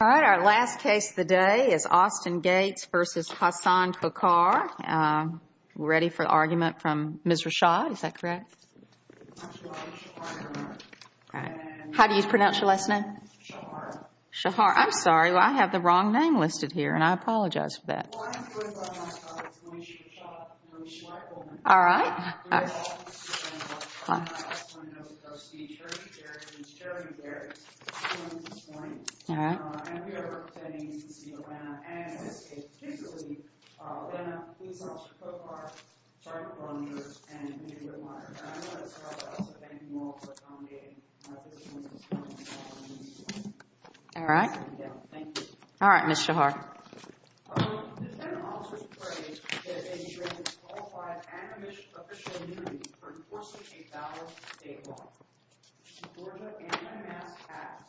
All right, our last case of the day is Austin Gates v. Hassan Khokar. We're ready for the argument from Ms. Rashad. Is that correct? How do you pronounce your last name? Shahar. Shahar. I'm sorry, I have the wrong name listed here and I apologize for that. All right. I just want to note that our state attorney chair, Ms. Sherry Barrett, is joining us this morning. All right. And we are representing the state of Atlanta and in this case, particularly, Atlanta Police Officer Khokar, Department of Law Enforcement, and the community of Atlanta. And I just want to start by also thanking you all for accommodating this morning's hearing. All right. Thank you. All right, Ms. Shahar. The defendant also has prayed that they be granted qualified and official immunity for enforcing a valid state law. Georgia Anti-Mass Act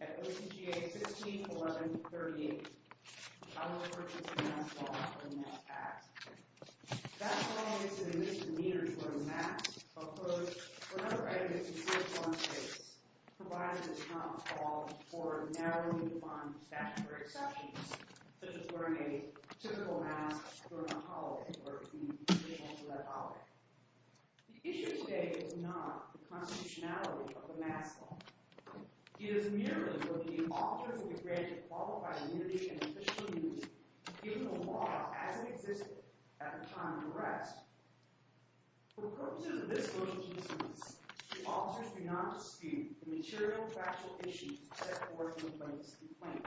at OCGA 161138. I will refer to the mass law in that act. That law is an admission meter for the mass, a quote for another item of the Civil Law in this case, for narrowly defined statutory exceptions, such as wearing a typical mask during a holiday or in addition to that holiday. The issue today is not the constitutionality of the mass law. It is merely that the officers will be granted qualified immunity and official immunity given the law as it existed at the time of the arrest. For the purposes of this motion to dismiss, the officers do not dispute the material factual issues set forth in the plaintiff's complaint.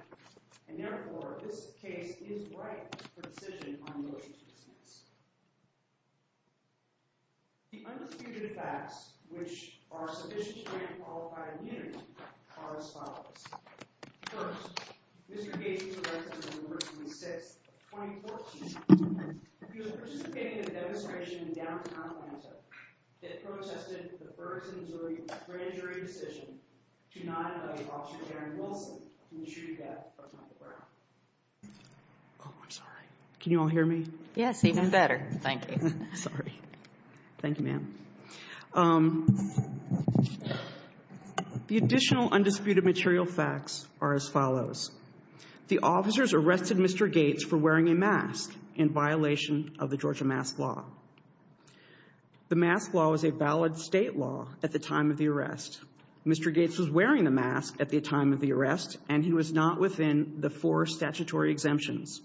And therefore, this case is right for decision on the motion to dismiss. The undisputed facts which are sufficient to grant qualified immunity are as follows. First, Mr. Gates was arrested on November 26, 2014. He was participating in a demonstration in downtown Atlanta that protested the Ferguson, Missouri Grand Jury decision to not allow Officer Darren Wilson to be treated death on the ground. The additional undisputed material facts are as follows. The officers arrested Mr. Gates for wearing a mask in violation of the Georgia mask law. The mask law was a valid state law at the time of the arrest. Mr. Gates was wearing the mask at the time of the arrest and he was not within the four statutory exemptions.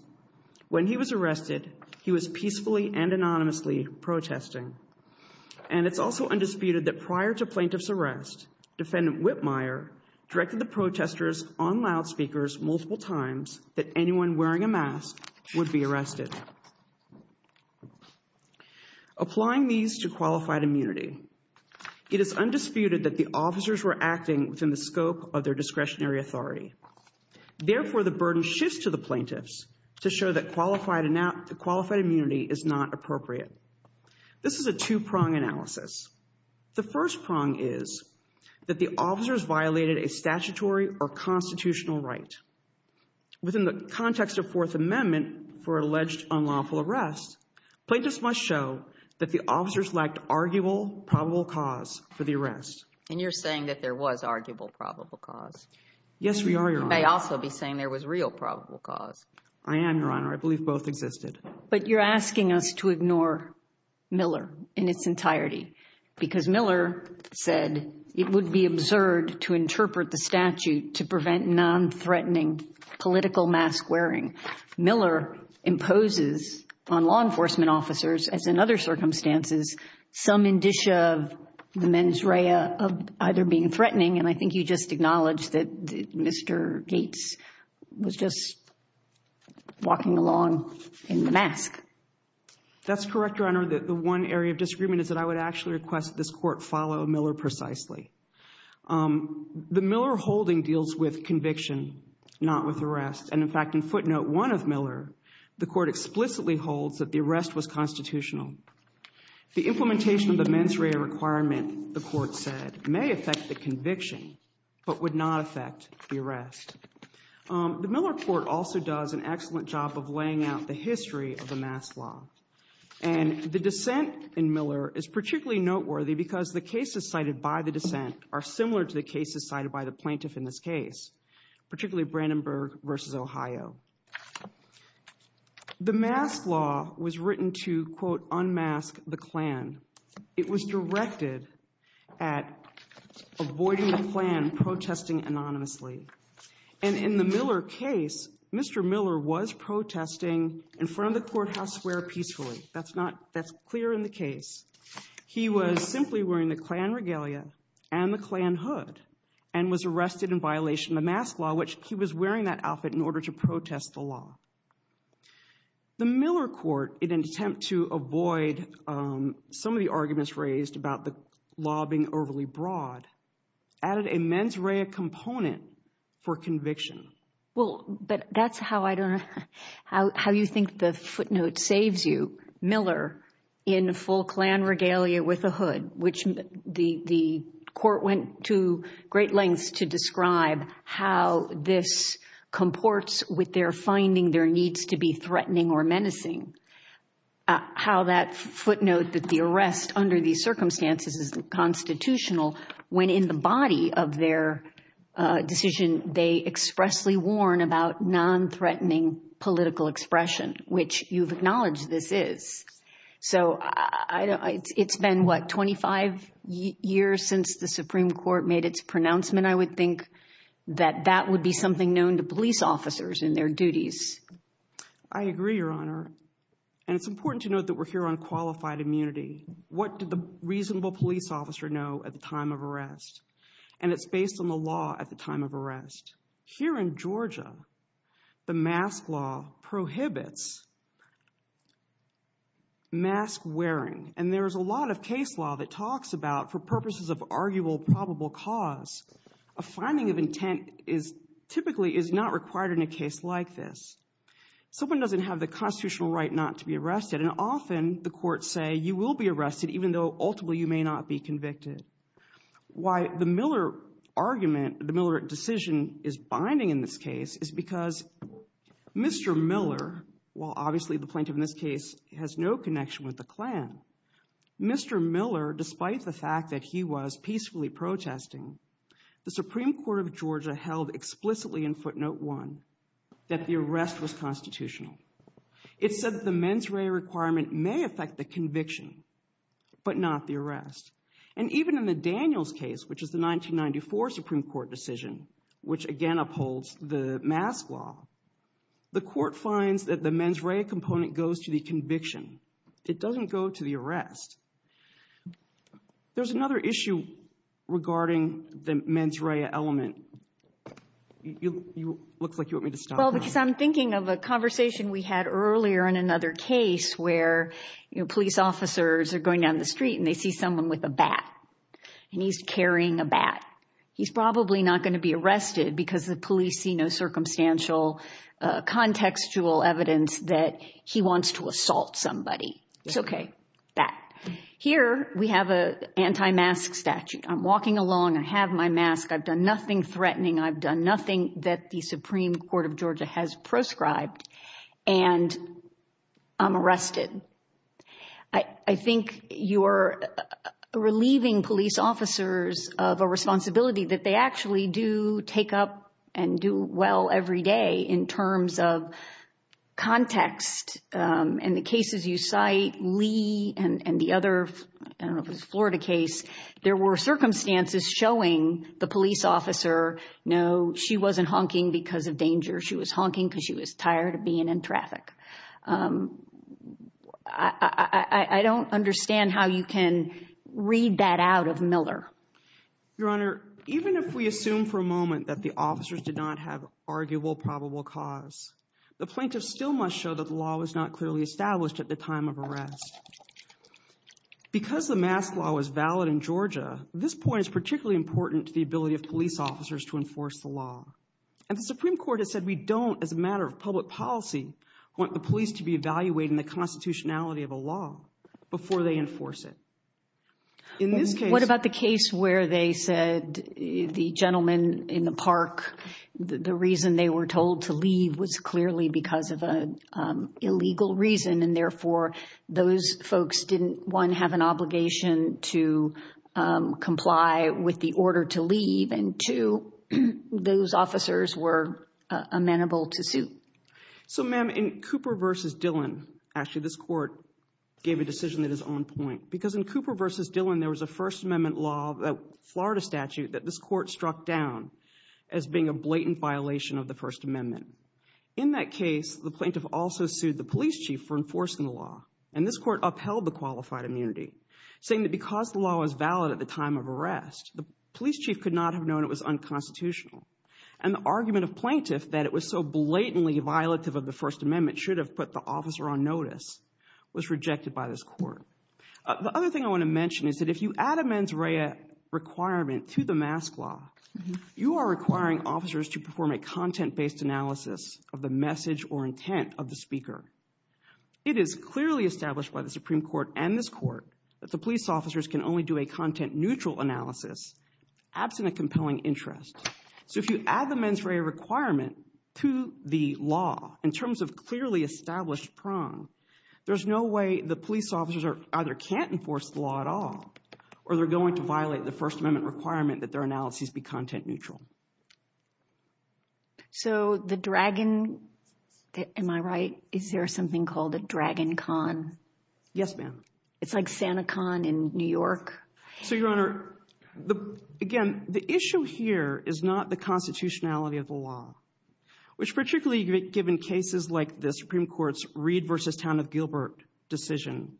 When he was arrested, he was peacefully and anonymously protesting. And it's also undisputed that prior to plaintiff's arrest, defendant Whitmire directed the protesters on loudspeakers multiple times that anyone wearing a mask would be arrested. Applying these to qualified immunity, it is undisputed that the officers were acting within the scope of their discretionary authority. Therefore, the burden shifts to the plaintiffs to show that qualified immunity is not appropriate. This is a two-prong analysis. The first prong is that the officers violated a statutory or constitutional right. Within the context of Fourth Amendment for alleged unlawful arrest, plaintiffs must show that the officers lacked arguable probable cause for the arrest. And you're saying that there was arguable probable cause. Yes, we are, Your Honor. You may also be saying there was real probable cause. I am, Your Honor. I believe both existed. But you're asking us to ignore Miller in its entirety. Because Miller said it would be absurd to interpret the statute to prevent nonthreatening political mask wearing. Miller imposes on law enforcement officers, as in other circumstances, some indicia of the mens rea of either being threatening. And I think you just acknowledged that Mr. Gates was just walking along in the mask. That's correct, Your Honor. The one area of disagreement is that I would actually request that this Court follow Miller precisely. The Miller holding deals with conviction, not with arrest. And, in fact, in footnote 1 of Miller, the Court explicitly holds that the arrest was constitutional. The implementation of the mens rea requirement, the Court said, may affect the conviction but would not affect the arrest. The Miller Court also does an excellent job of laying out the history of the mask law. And the dissent in Miller is particularly noteworthy because the cases cited by the dissent are similar to the cases cited by the plaintiff in this case, particularly Brandenburg v. Ohio. The mask law was written to, quote, unmask the Klan. It was directed at avoiding the Klan protesting anonymously. And in the Miller case, Mr. Miller was protesting in front of the courthouse square peacefully. That's clear in the case. He was simply wearing the Klan regalia and the Klan hood and was arrested in violation of the mask law, which he was wearing that outfit in order to protest the law. The Miller Court, in an attempt to avoid some of the arguments raised about the law being overly broad, added a mens rea component for conviction. Well, but that's how I don't know how you think the footnote saves you, Miller in full Klan regalia with a hood, which the Court went to great lengths to describe how this comports with their finding there needs to be threatening or menacing. How that footnote that the arrest under these circumstances is constitutional, when in the body of their decision, they expressly warn about non-threatening political expression, which you've acknowledged this is. So it's been, what, 25 years since the Supreme Court made its pronouncement, I would think, that that would be something known to police officers in their duties. I agree, Your Honor. And it's important to note that we're here on qualified immunity. What did the reasonable police officer know at the time of arrest? And it's based on the law at the time of arrest. Here in Georgia, the mask law prohibits mask wearing. And there is a lot of case law that talks about, for purposes of arguable probable cause, a finding of intent typically is not required in a case like this. Someone doesn't have the constitutional right not to be arrested, and often the courts say you will be arrested even though ultimately you may not be convicted. Why the Miller argument, the Miller decision, is binding in this case is because Mr. Miller, while obviously the plaintiff in this case has no connection with the Klan, Mr. Miller, despite the fact that he was peacefully protesting, the Supreme Court of Georgia held explicitly in footnote one that the arrest was constitutional. It said the mens rea requirement may affect the conviction, but not the arrest. And even in the Daniels case, which is the 1994 Supreme Court decision, which again upholds the mask law, the court finds that the mens rea component goes to the conviction. It doesn't go to the arrest. There's another issue regarding the mens rea element. It looks like you want me to stop. Well, because I'm thinking of a conversation we had earlier in another case where police officers are going down the street and they see someone with a bat, and he's carrying a bat. He's probably not going to be arrested because the police see no circumstantial contextual evidence that he wants to assault somebody. It's okay. Bat. Here we have an anti-mask statute. I'm walking along. I have my mask. I've done nothing threatening. I've done nothing that the Supreme Court of Georgia has proscribed. And I'm arrested. I think you're relieving police officers of a responsibility that they actually do take up and do well every day in terms of context. In the cases you cite, Lee and the other Florida case, there were circumstances showing the police officer, no, she wasn't honking because of danger. She was honking because she was tired of being in traffic. I don't understand how you can read that out of Miller. Your Honor, even if we assume for a moment that the officers did not have arguable probable cause, the plaintiff still must show that the law was not clearly established at the time of arrest. Because the mask law was valid in Georgia, this point is particularly important to the ability of police officers to enforce the law. And the Supreme Court has said we don't, as a matter of public policy, want the police to be evaluating the constitutionality of a law before they enforce it. What about the case where they said the gentleman in the park, the reason they were told to leave was clearly because of an illegal reason, and therefore those folks didn't, one, have an obligation to comply with the order to leave, and two, those officers were amenable to suit? So, ma'am, in Cooper v. Dillon, actually, this court gave a decision that is on point. Because in Cooper v. Dillon, there was a First Amendment law, a Florida statute, that this court struck down as being a blatant violation of the First Amendment. In that case, the plaintiff also sued the police chief for enforcing the law, and this court upheld the qualified immunity, saying that because the law was valid at the time of arrest, the police chief could not have known it was unconstitutional. And the argument of plaintiff that it was so blatantly violative of the First Amendment should have put the officer on notice was rejected by this court. The other thing I want to mention is that if you add a mens rea requirement to the mask law, you are requiring officers to perform a content-based analysis of the message or intent of the speaker. It is clearly established by the Supreme Court and this court that the police officers can only do a content-neutral analysis absent a compelling interest. So if you add the mens rea requirement to the law in terms of clearly established prong, there's no way the police officers either can't enforce the law at all or they're going to violate the First Amendment requirement that their analyses be content-neutral. So the dragon, am I right, is there something called a dragon con? Yes, ma'am. It's like Santa Con in New York. So, Your Honor, again, the issue here is not the constitutionality of the law, which particularly given cases like the Supreme Court's Reed v. Town of Gilbert decision,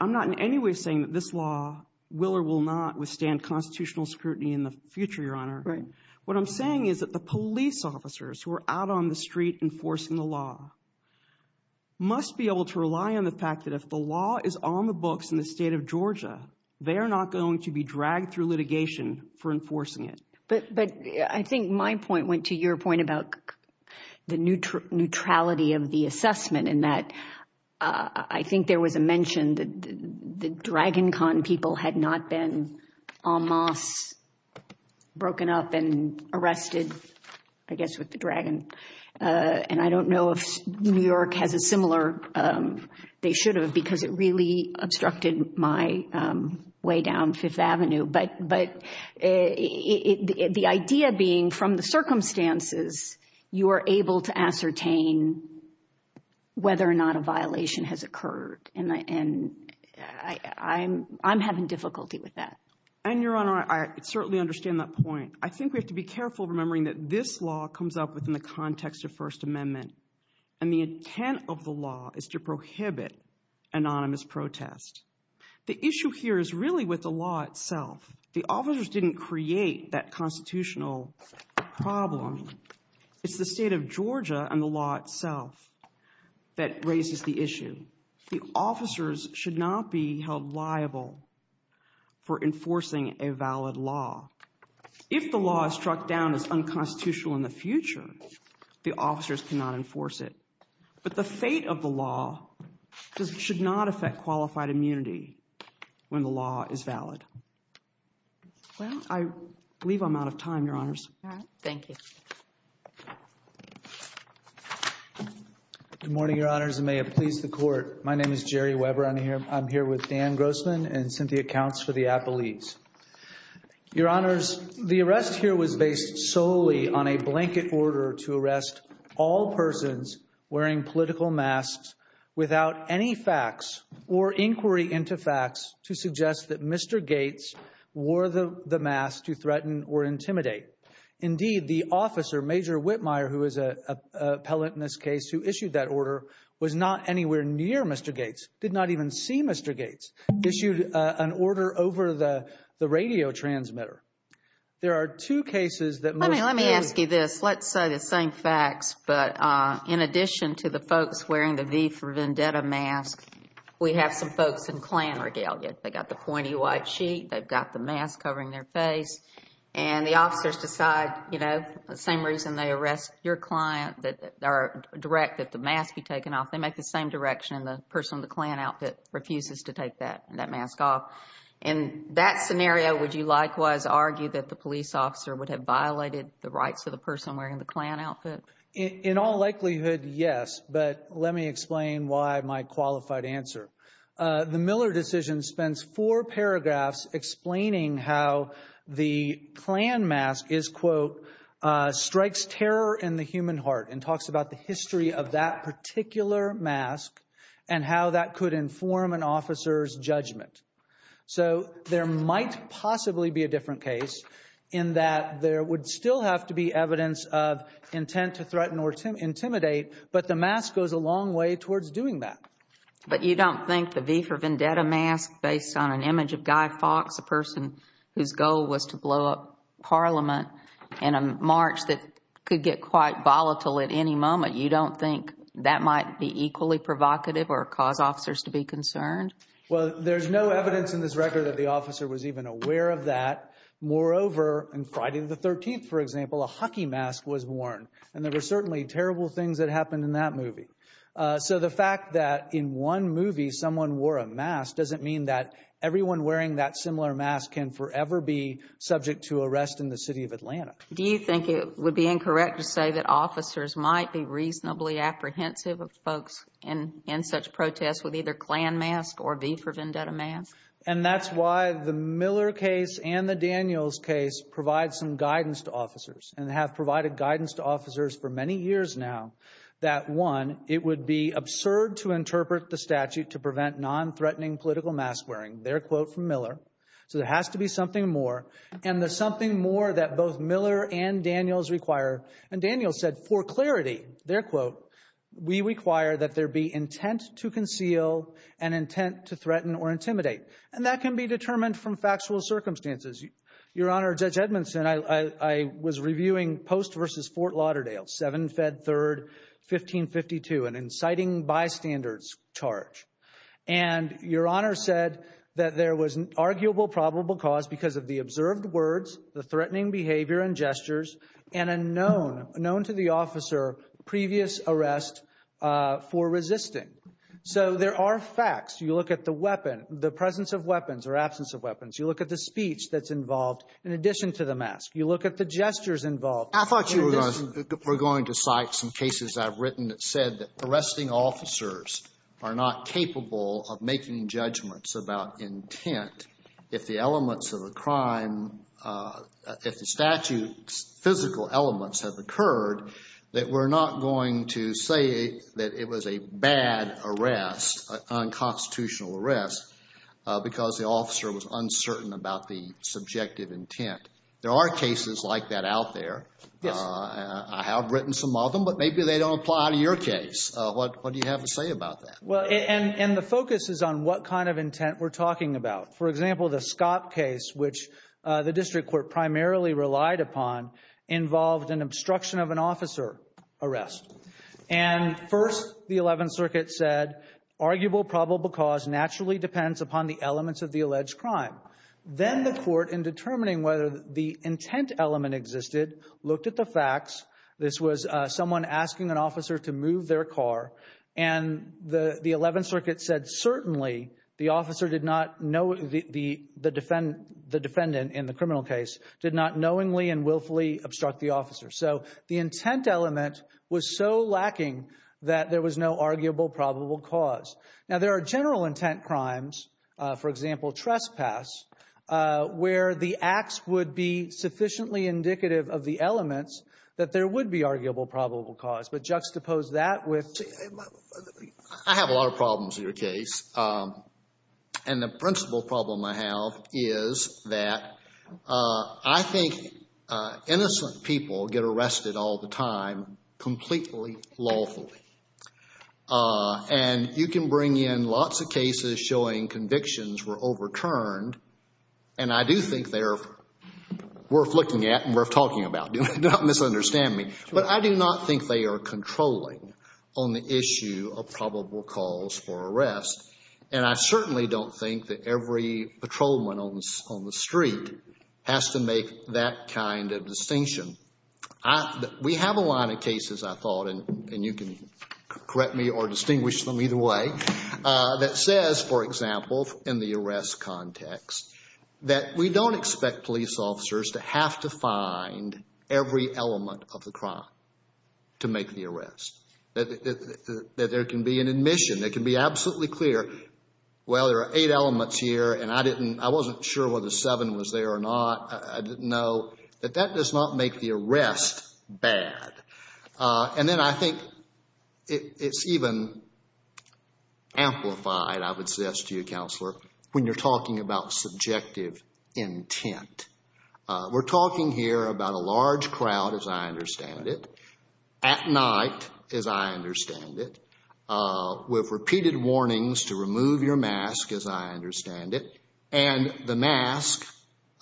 I'm not in any way saying that this law will or will not withstand constitutional scrutiny in the future, Your Honor. What I'm saying is that the police officers who are out on the street enforcing the law must be able to rely on the fact that if the law is on the books in the state of Georgia, they are not going to be dragged through litigation for enforcing it. But I think my point went to your point about the neutrality of the assessment in that I think there was a mention that the dragon con people had not been en masse broken up and arrested, I guess, with the dragon. And I don't know if New York has a similar, they should have, because it really obstructed my way down Fifth Avenue. But the idea being from the circumstances, you are able to ascertain whether or not a violation has occurred. And I'm having difficulty with that. And, Your Honor, I certainly understand that point. I think we have to be careful remembering that this law comes up within the context of First Amendment. And the intent of the law is to prohibit anonymous protest. The issue here is really with the law itself. The officers didn't create that constitutional problem. It's the state of Georgia and the law itself that raises the issue. The officers should not be held liable for enforcing a valid law. If the law is struck down as unconstitutional in the future, the officers cannot enforce it. But the fate of the law should not affect qualified immunity when the law is valid. I believe I'm out of time, Your Honors. Thank you. Good morning, Your Honors, and may it please the Court. My name is Jerry Weber. I'm here with Dan Grossman and Cynthia Counts for the Appellees. Your Honors, the arrest here was based solely on a blanket order to arrest all persons wearing political masks without any facts or inquiry into facts to suggest that Mr. Gates wore the mask to threaten or intimidate. Indeed, the officer, Major Whitmire, who is an appellant in this case who issued that order, was not anywhere near Mr. Gates, did not even see Mr. Gates, issued an order over the radio transmitter. There are two cases that most clearly— Let me ask you this. Let's say the same facts, but in addition to the folks wearing the V for Vendetta mask, we have some folks in Klan regalia. They've got the pointy white sheet. They've got the mask covering their face. And the officers decide, you know, the same reason they arrest your client, direct that the mask be taken off. They make the same direction, and the person in the Klan outfit refuses to take that mask off. In that scenario, would you likewise argue that the police officer would have violated the rights of the person wearing the Klan outfit? In all likelihood, yes, but let me explain why my qualified answer. The Miller decision spends four paragraphs explaining how the Klan mask is, quote, strikes terror in the human heart and talks about the history of that particular mask and how that could inform an officer's judgment. So there might possibly be a different case in that there would still have to be evidence of intent to threaten or intimidate, but the mask goes a long way towards doing that. But you don't think the V for Vendetta mask based on an image of Guy Fawkes, a person whose goal was to blow up Parliament in a march that could get quite volatile at any moment, you don't think that might be equally provocative or cause officers to be concerned? Well, there's no evidence in this record that the officer was even aware of that. Moreover, on Friday the 13th, for example, a hockey mask was worn, and there were certainly terrible things that happened in that movie. So the fact that in one movie someone wore a mask doesn't mean that everyone wearing that similar mask can forever be subject to arrest in the city of Atlanta. Do you think it would be incorrect to say that officers might be reasonably apprehensive of folks in such protests with either Klan mask or V for Vendetta mask? And that's why the Miller case and the Daniels case provide some guidance to officers and have provided guidance to officers for many years now that, one, it would be absurd to interpret the statute to prevent non-threatening political mask wearing, their quote from Miller, so there has to be something more. And there's something more that both Miller and Daniels require. And Daniels said, for clarity, their quote, we require that there be intent to conceal and intent to threaten or intimidate. And that can be determined from factual circumstances. Your Honor, Judge Edmondson, I was reviewing Post v. Fort Lauderdale, 7 Feb. 3, 1552, an inciting bystander's charge. And Your Honor said that there was an arguable probable cause because of the observed words, the threatening behavior and gestures, and a known to the officer previous arrest for resisting. So there are facts. You look at the weapon, the presence of weapons or absence of weapons. You look at the speech that's involved in addition to the mask. You look at the gestures involved in addition to the mask. I thought you were going to cite some cases I've written that said that arresting officers are not capable of making judgments about intent if the elements of a crime — if the statute's physical elements have occurred, that we're not going to say that it was a bad arrest, unconstitutional arrest, because the officer was uncertain about the subjective intent. There are cases like that out there. Yes. I have written some of them, but maybe they don't apply to your case. What do you have to say about that? Well, and the focus is on what kind of intent we're talking about. For example, the Scott case, which the district court primarily relied upon, involved an obstruction of an officer arrest. And first, the Eleventh Circuit said, Arguable probable cause naturally depends upon the elements of the alleged crime. Then the court, in determining whether the intent element existed, looked at the facts. This was someone asking an officer to move their car. And the Eleventh Circuit said, Certainly, the officer did not know the defendant in the criminal case, did not knowingly and willfully obstruct the officer. So the intent element was so lacking that there was no arguable probable cause. Now, there are general intent crimes, for example, trespass, where the acts would be sufficiently indicative of the elements that there would be arguable probable cause. But juxtapose that with… I have a lot of problems in your case. And the principal problem I have is that I think innocent people get arrested all the time completely lawfully. And you can bring in lots of cases showing convictions were overturned. And I do think they're worth looking at and worth talking about. Do not misunderstand me. But I do not think they are controlling on the issue of probable cause for arrest. And I certainly don't think that every patrolman on the street has to make that kind of distinction. We have a lot of cases, I thought, and you can correct me or distinguish them either way, that says, for example, in the arrest context, that we don't expect police officers to have to find every element of the crime to make the arrest. That there can be an admission that can be absolutely clear, well, there are eight elements here and I wasn't sure whether seven was there or not. I didn't know. That that does not make the arrest bad. And then I think it's even amplified, I would suggest to you, Counselor, when you're talking about subjective intent. We're talking here about a large crowd, as I understand it, at night, as I understand it, with repeated warnings to remove your mask, as I understand it. And the mask,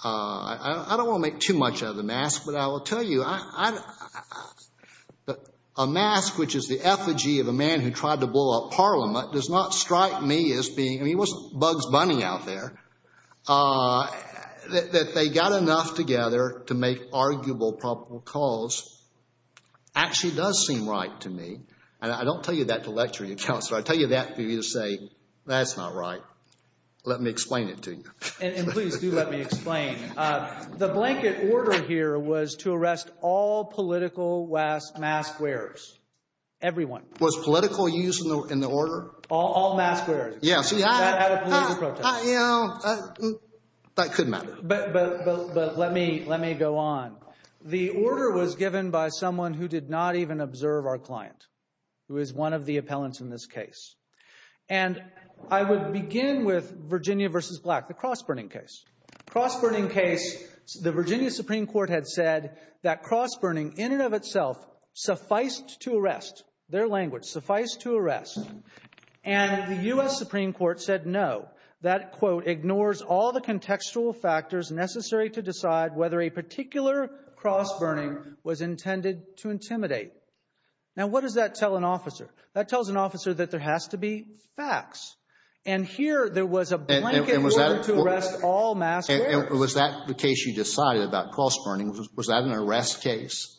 I don't want to make too much of the mask, but I will tell you, a mask, which is the effigy of a man who tried to blow up Parliament, does not strike me as being, I mean, he wasn't Bugs Bunny out there. That they got enough together to make arguable probable cause actually does seem right to me. And I don't tell you that to lecture you, Counselor. I tell you that for you to say, that's not right. Let me explain it to you. And please do let me explain. The blanket order here was to arrest all political mask wearers. Everyone. Was political use in the order? All mask wearers. Yes. That could matter. But let me go on. The order was given by someone who did not even observe our client, who is one of the appellants in this case. And I would begin with Virginia v. Black, the cross-burning case. Cross-burning case, the Virginia Supreme Court had said that cross-burning, in and of itself, sufficed to arrest. Their language, suffice to arrest. And the U.S. Supreme Court said no. That, quote, ignores all the contextual factors necessary to decide whether a particular cross-burning was intended to intimidate. Now what does that tell an officer? That tells an officer that there has to be facts. And here there was a blanket order to arrest all mask wearers. And was that the case you decided about cross-burning? Was that an arrest case?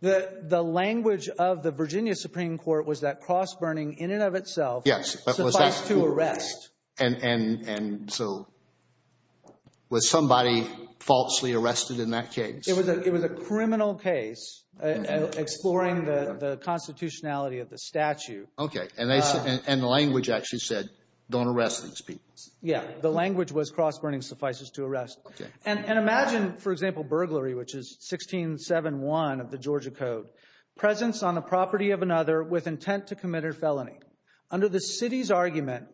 The language of the Virginia Supreme Court was that cross-burning, in and of itself, sufficed to arrest. And so was somebody falsely arrested in that case? It was a criminal case, exploring the constitutionality of the statute. Okay. And the language actually said don't arrest these people. Yeah. The language was cross-burning suffices to arrest. Okay. And imagine, for example, burglary, which is 1671 of the Georgia Code, presence on the property of another with intent to commit a felony. Under the city's argument,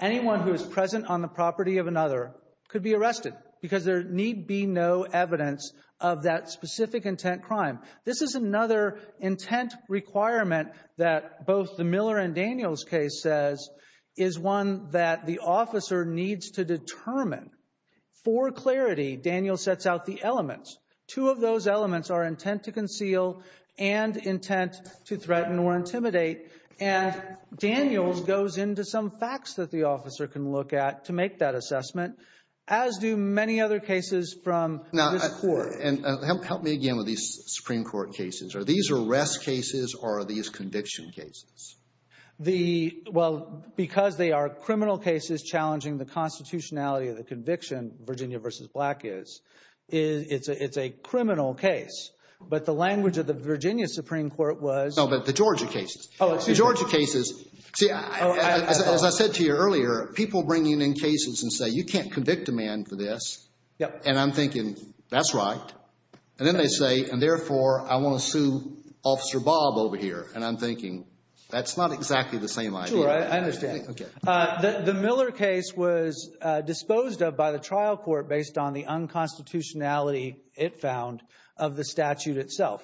anyone who is present on the property of another could be arrested because there need be no evidence of that specific intent crime. This is another intent requirement that both the Miller and Daniels case says is one that the officer needs to determine. For clarity, Daniels sets out the elements. Two of those elements are intent to conceal and intent to threaten or intimidate. And Daniels goes into some facts that the officer can look at to make that assessment, as do many other cases from this court. Now, help me again with these Supreme Court cases. Are these arrest cases or are these conviction cases? Well, because they are criminal cases challenging the constitutionality of the conviction, Virginia v. Black is, it's a criminal case. But the language of the Virginia Supreme Court was— No, but the Georgia cases. Oh, excuse me. The Georgia cases. See, as I said to you earlier, people bring in cases and say, you can't convict a man for this. And I'm thinking, that's right. And then they say, and therefore, I want to sue Officer Bob over here. And I'm thinking, that's not exactly the same idea. Sure, I understand. The Miller case was disposed of by the trial court based on the unconstitutionality, it found, of the statute itself.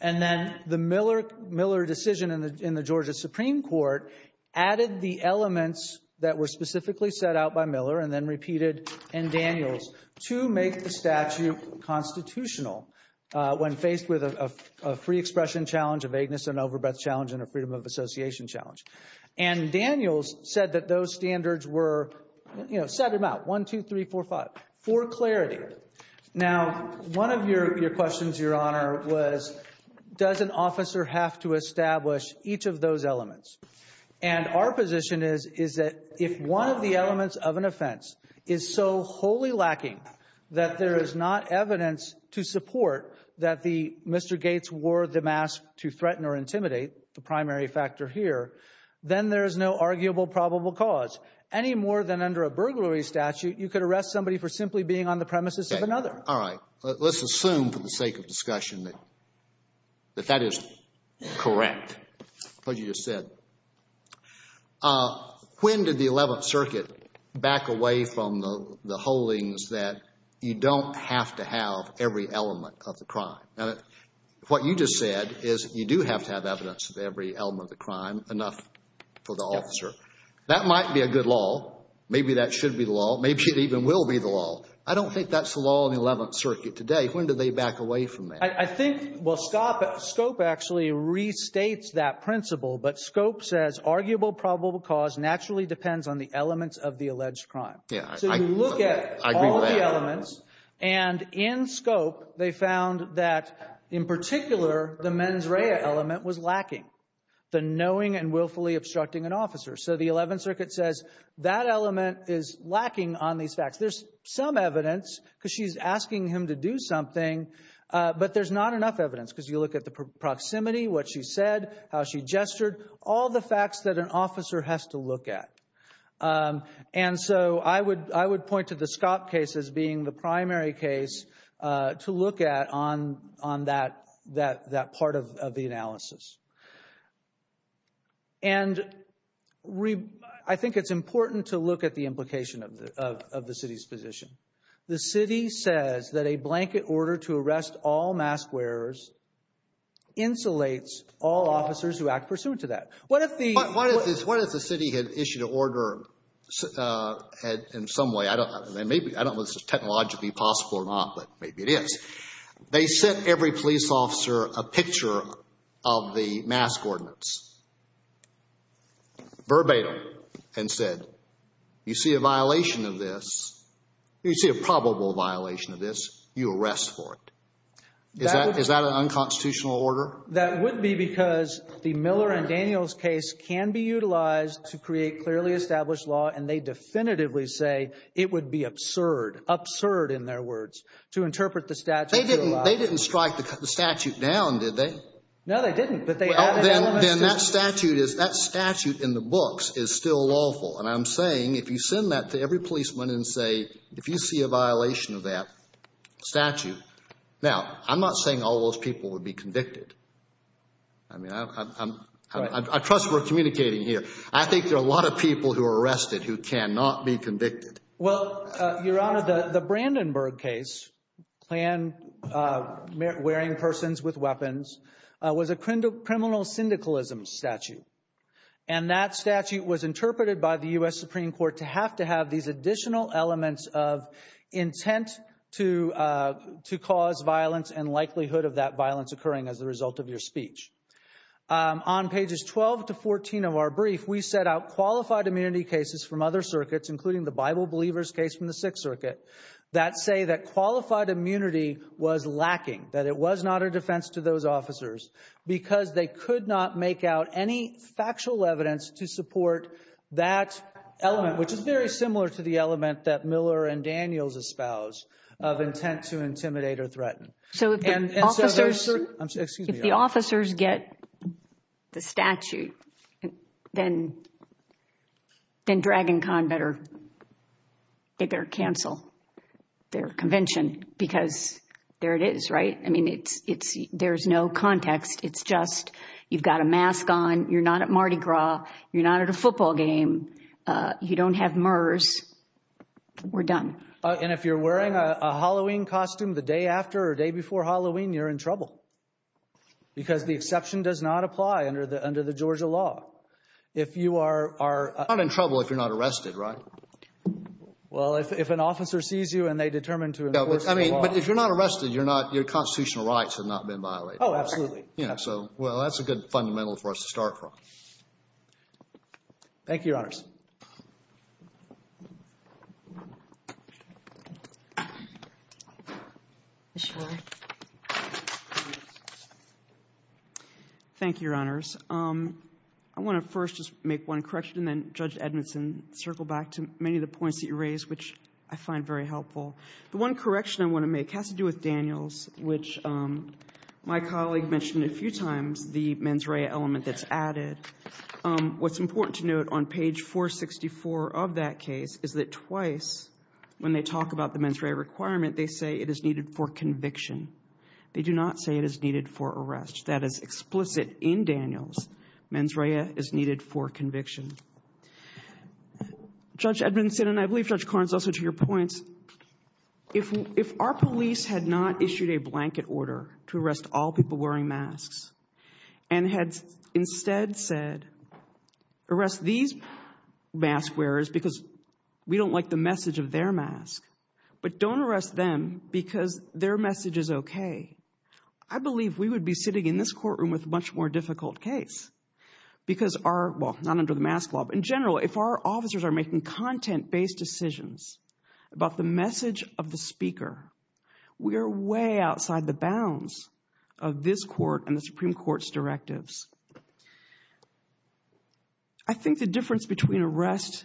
And then the Miller decision in the Georgia Supreme Court added the elements that were specifically set out by Miller and then repeated in Daniels to make the statute constitutional when faced with a free expression challenge, a vagueness and overbreath challenge, and a freedom of association challenge. And Daniels said that those standards were, you know, set them out, one, two, three, four, five, for clarity. Now, one of your questions, Your Honor, was, does an officer have to establish each of those elements? is so wholly lacking that there is not evidence to support that Mr. Gates wore the mask to threaten or intimidate, the primary factor here, then there is no arguable probable cause. Any more than under a burglary statute, you could arrest somebody for simply being on the premises of another. All right. Let's assume, for the sake of discussion, that that is correct, what you just said. When did the 11th Circuit back away from the holdings that you don't have to have every element of the crime? Now, what you just said is you do have to have evidence of every element of the crime, enough for the officer. That might be a good law. Maybe that should be the law. Maybe it even will be the law. I don't think that's the law in the 11th Circuit today. When did they back away from that? I think, well, Scope actually restates that principle, but Scope says arguable probable cause naturally depends on the elements of the alleged crime. So you look at all the elements, and in Scope, they found that in particular the mens rea element was lacking, the knowing and willfully obstructing an officer. So the 11th Circuit says that element is lacking on these facts. There's some evidence because she's asking him to do something, but there's not enough evidence because you look at the proximity, what she said, how she gestured, all the facts that an officer has to look at. And so I would point to the Scope case as being the primary case to look at on that part of the analysis. And I think it's important to look at the implication of the city's position. The city says that a blanket order to arrest all mask wearers insulates all officers who act pursuant to that. What if the city had issued an order in some way? I don't know if this is technologically possible or not, but maybe it is. They sent every police officer a picture of the mask ordinance verbatim and said, you see a violation of this, you see a probable violation of this, you arrest for it. Is that an unconstitutional order? That would be because the Miller and Daniels case can be utilized to create clearly established law, and they definitively say it would be absurd, absurd in their words, to interpret the statute. They didn't strike the statute down, did they? No, they didn't, but they added elements to it. Then that statute in the books is still lawful. And I'm saying if you send that to every policeman and say, if you see a violation of that statute, now I'm not saying all those people would be convicted. I mean, I trust we're communicating here. I think there are a lot of people who are arrested who cannot be convicted. Well, Your Honor, the Brandenburg case, wearing persons with weapons, was a criminal syndicalism statute. And that statute was interpreted by the U.S. Supreme Court to have to have these additional elements of intent to cause violence and likelihood of that violence occurring as a result of your speech. On pages 12 to 14 of our brief, we set out qualified immunity cases from other circuits, including the Bible Believers case from the Sixth Circuit, that say that qualified immunity was lacking, that it was not a defense to those officers, because they could not make out any factual evidence to support that element, which is very similar to the element that Miller and Daniels espouse of intent to intimidate or threaten. So if the officers get the statute, then Dragon Con better cancel their convention, because there it is, right? I mean, there's no context. It's just you've got a mask on. You're not at Mardi Gras. You're not at a football game. You don't have MERS. We're done. And if you're wearing a Halloween costume the day after or day before Halloween, you're in trouble, because the exception does not apply under the Georgia law. If you are... You're not in trouble if you're not arrested, right? Well, if an officer sees you and they determine to enforce the law... But if you're not arrested, your constitutional rights have not been violated. Oh, absolutely. So, well, that's a good fundamental for us to start from. Thank you, Your Honors. Thank you, Your Honors. I want to first just make one correction and then, Judge Edmondson, circle back to many of the points that you raised, which I find very helpful. The one correction I want to make has to do with Daniels, which my colleague mentioned a few times, the mens rea element that's added. What's important to note on page 464 of that case is that twice, when they talk about the mens rea requirement, they say it is needed for conviction. They do not say it is needed for arrest. That is explicit in Daniels. Mens rea is needed for conviction. Judge Edmondson, and I believe Judge Carnes also to your points, if our police had not issued a blanket order to arrest all people wearing masks and had instead said, arrest these mask wearers because we don't like the message of their mask, but don't arrest them because their message is okay, I believe we would be sitting in this courtroom with a much more difficult case because our, well, not under the mask law, but in general, if our officers are making content-based decisions about the message of the speaker, we are way outside the bounds of this court and the Supreme Court's directives. I think the difference between arrest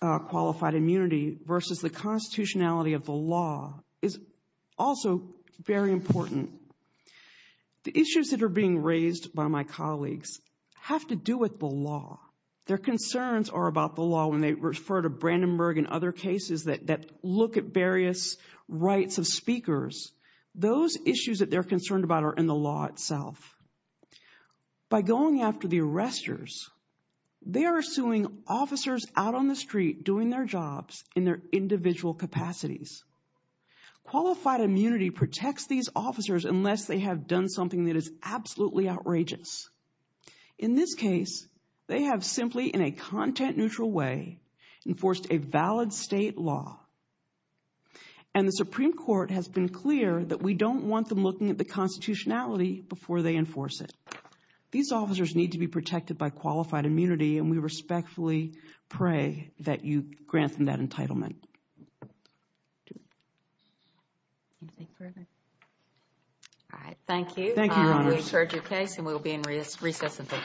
qualified immunity versus the constitutionality of the law is also very important. The issues that are being raised by my colleagues have to do with the law. Their concerns are about the law when they refer to Brandenburg and other cases that look at various rights of speakers. Those issues that they're concerned about are in the law itself. By going after the arresters, they are suing officers out on the street doing their jobs in their individual capacities. Qualified immunity protects these officers unless they have done something that is absolutely outrageous. In this case, they have simply, in a content-neutral way, enforced a valid state law. And the Supreme Court has been clear that we don't want them looking at the constitutionality before they enforce it. These officers need to be protected by qualified immunity, and we respectfully pray that you grant them that entitlement. Thank you, Your Honors. We've heard your case, and we will be in recess until tomorrow. Thank you.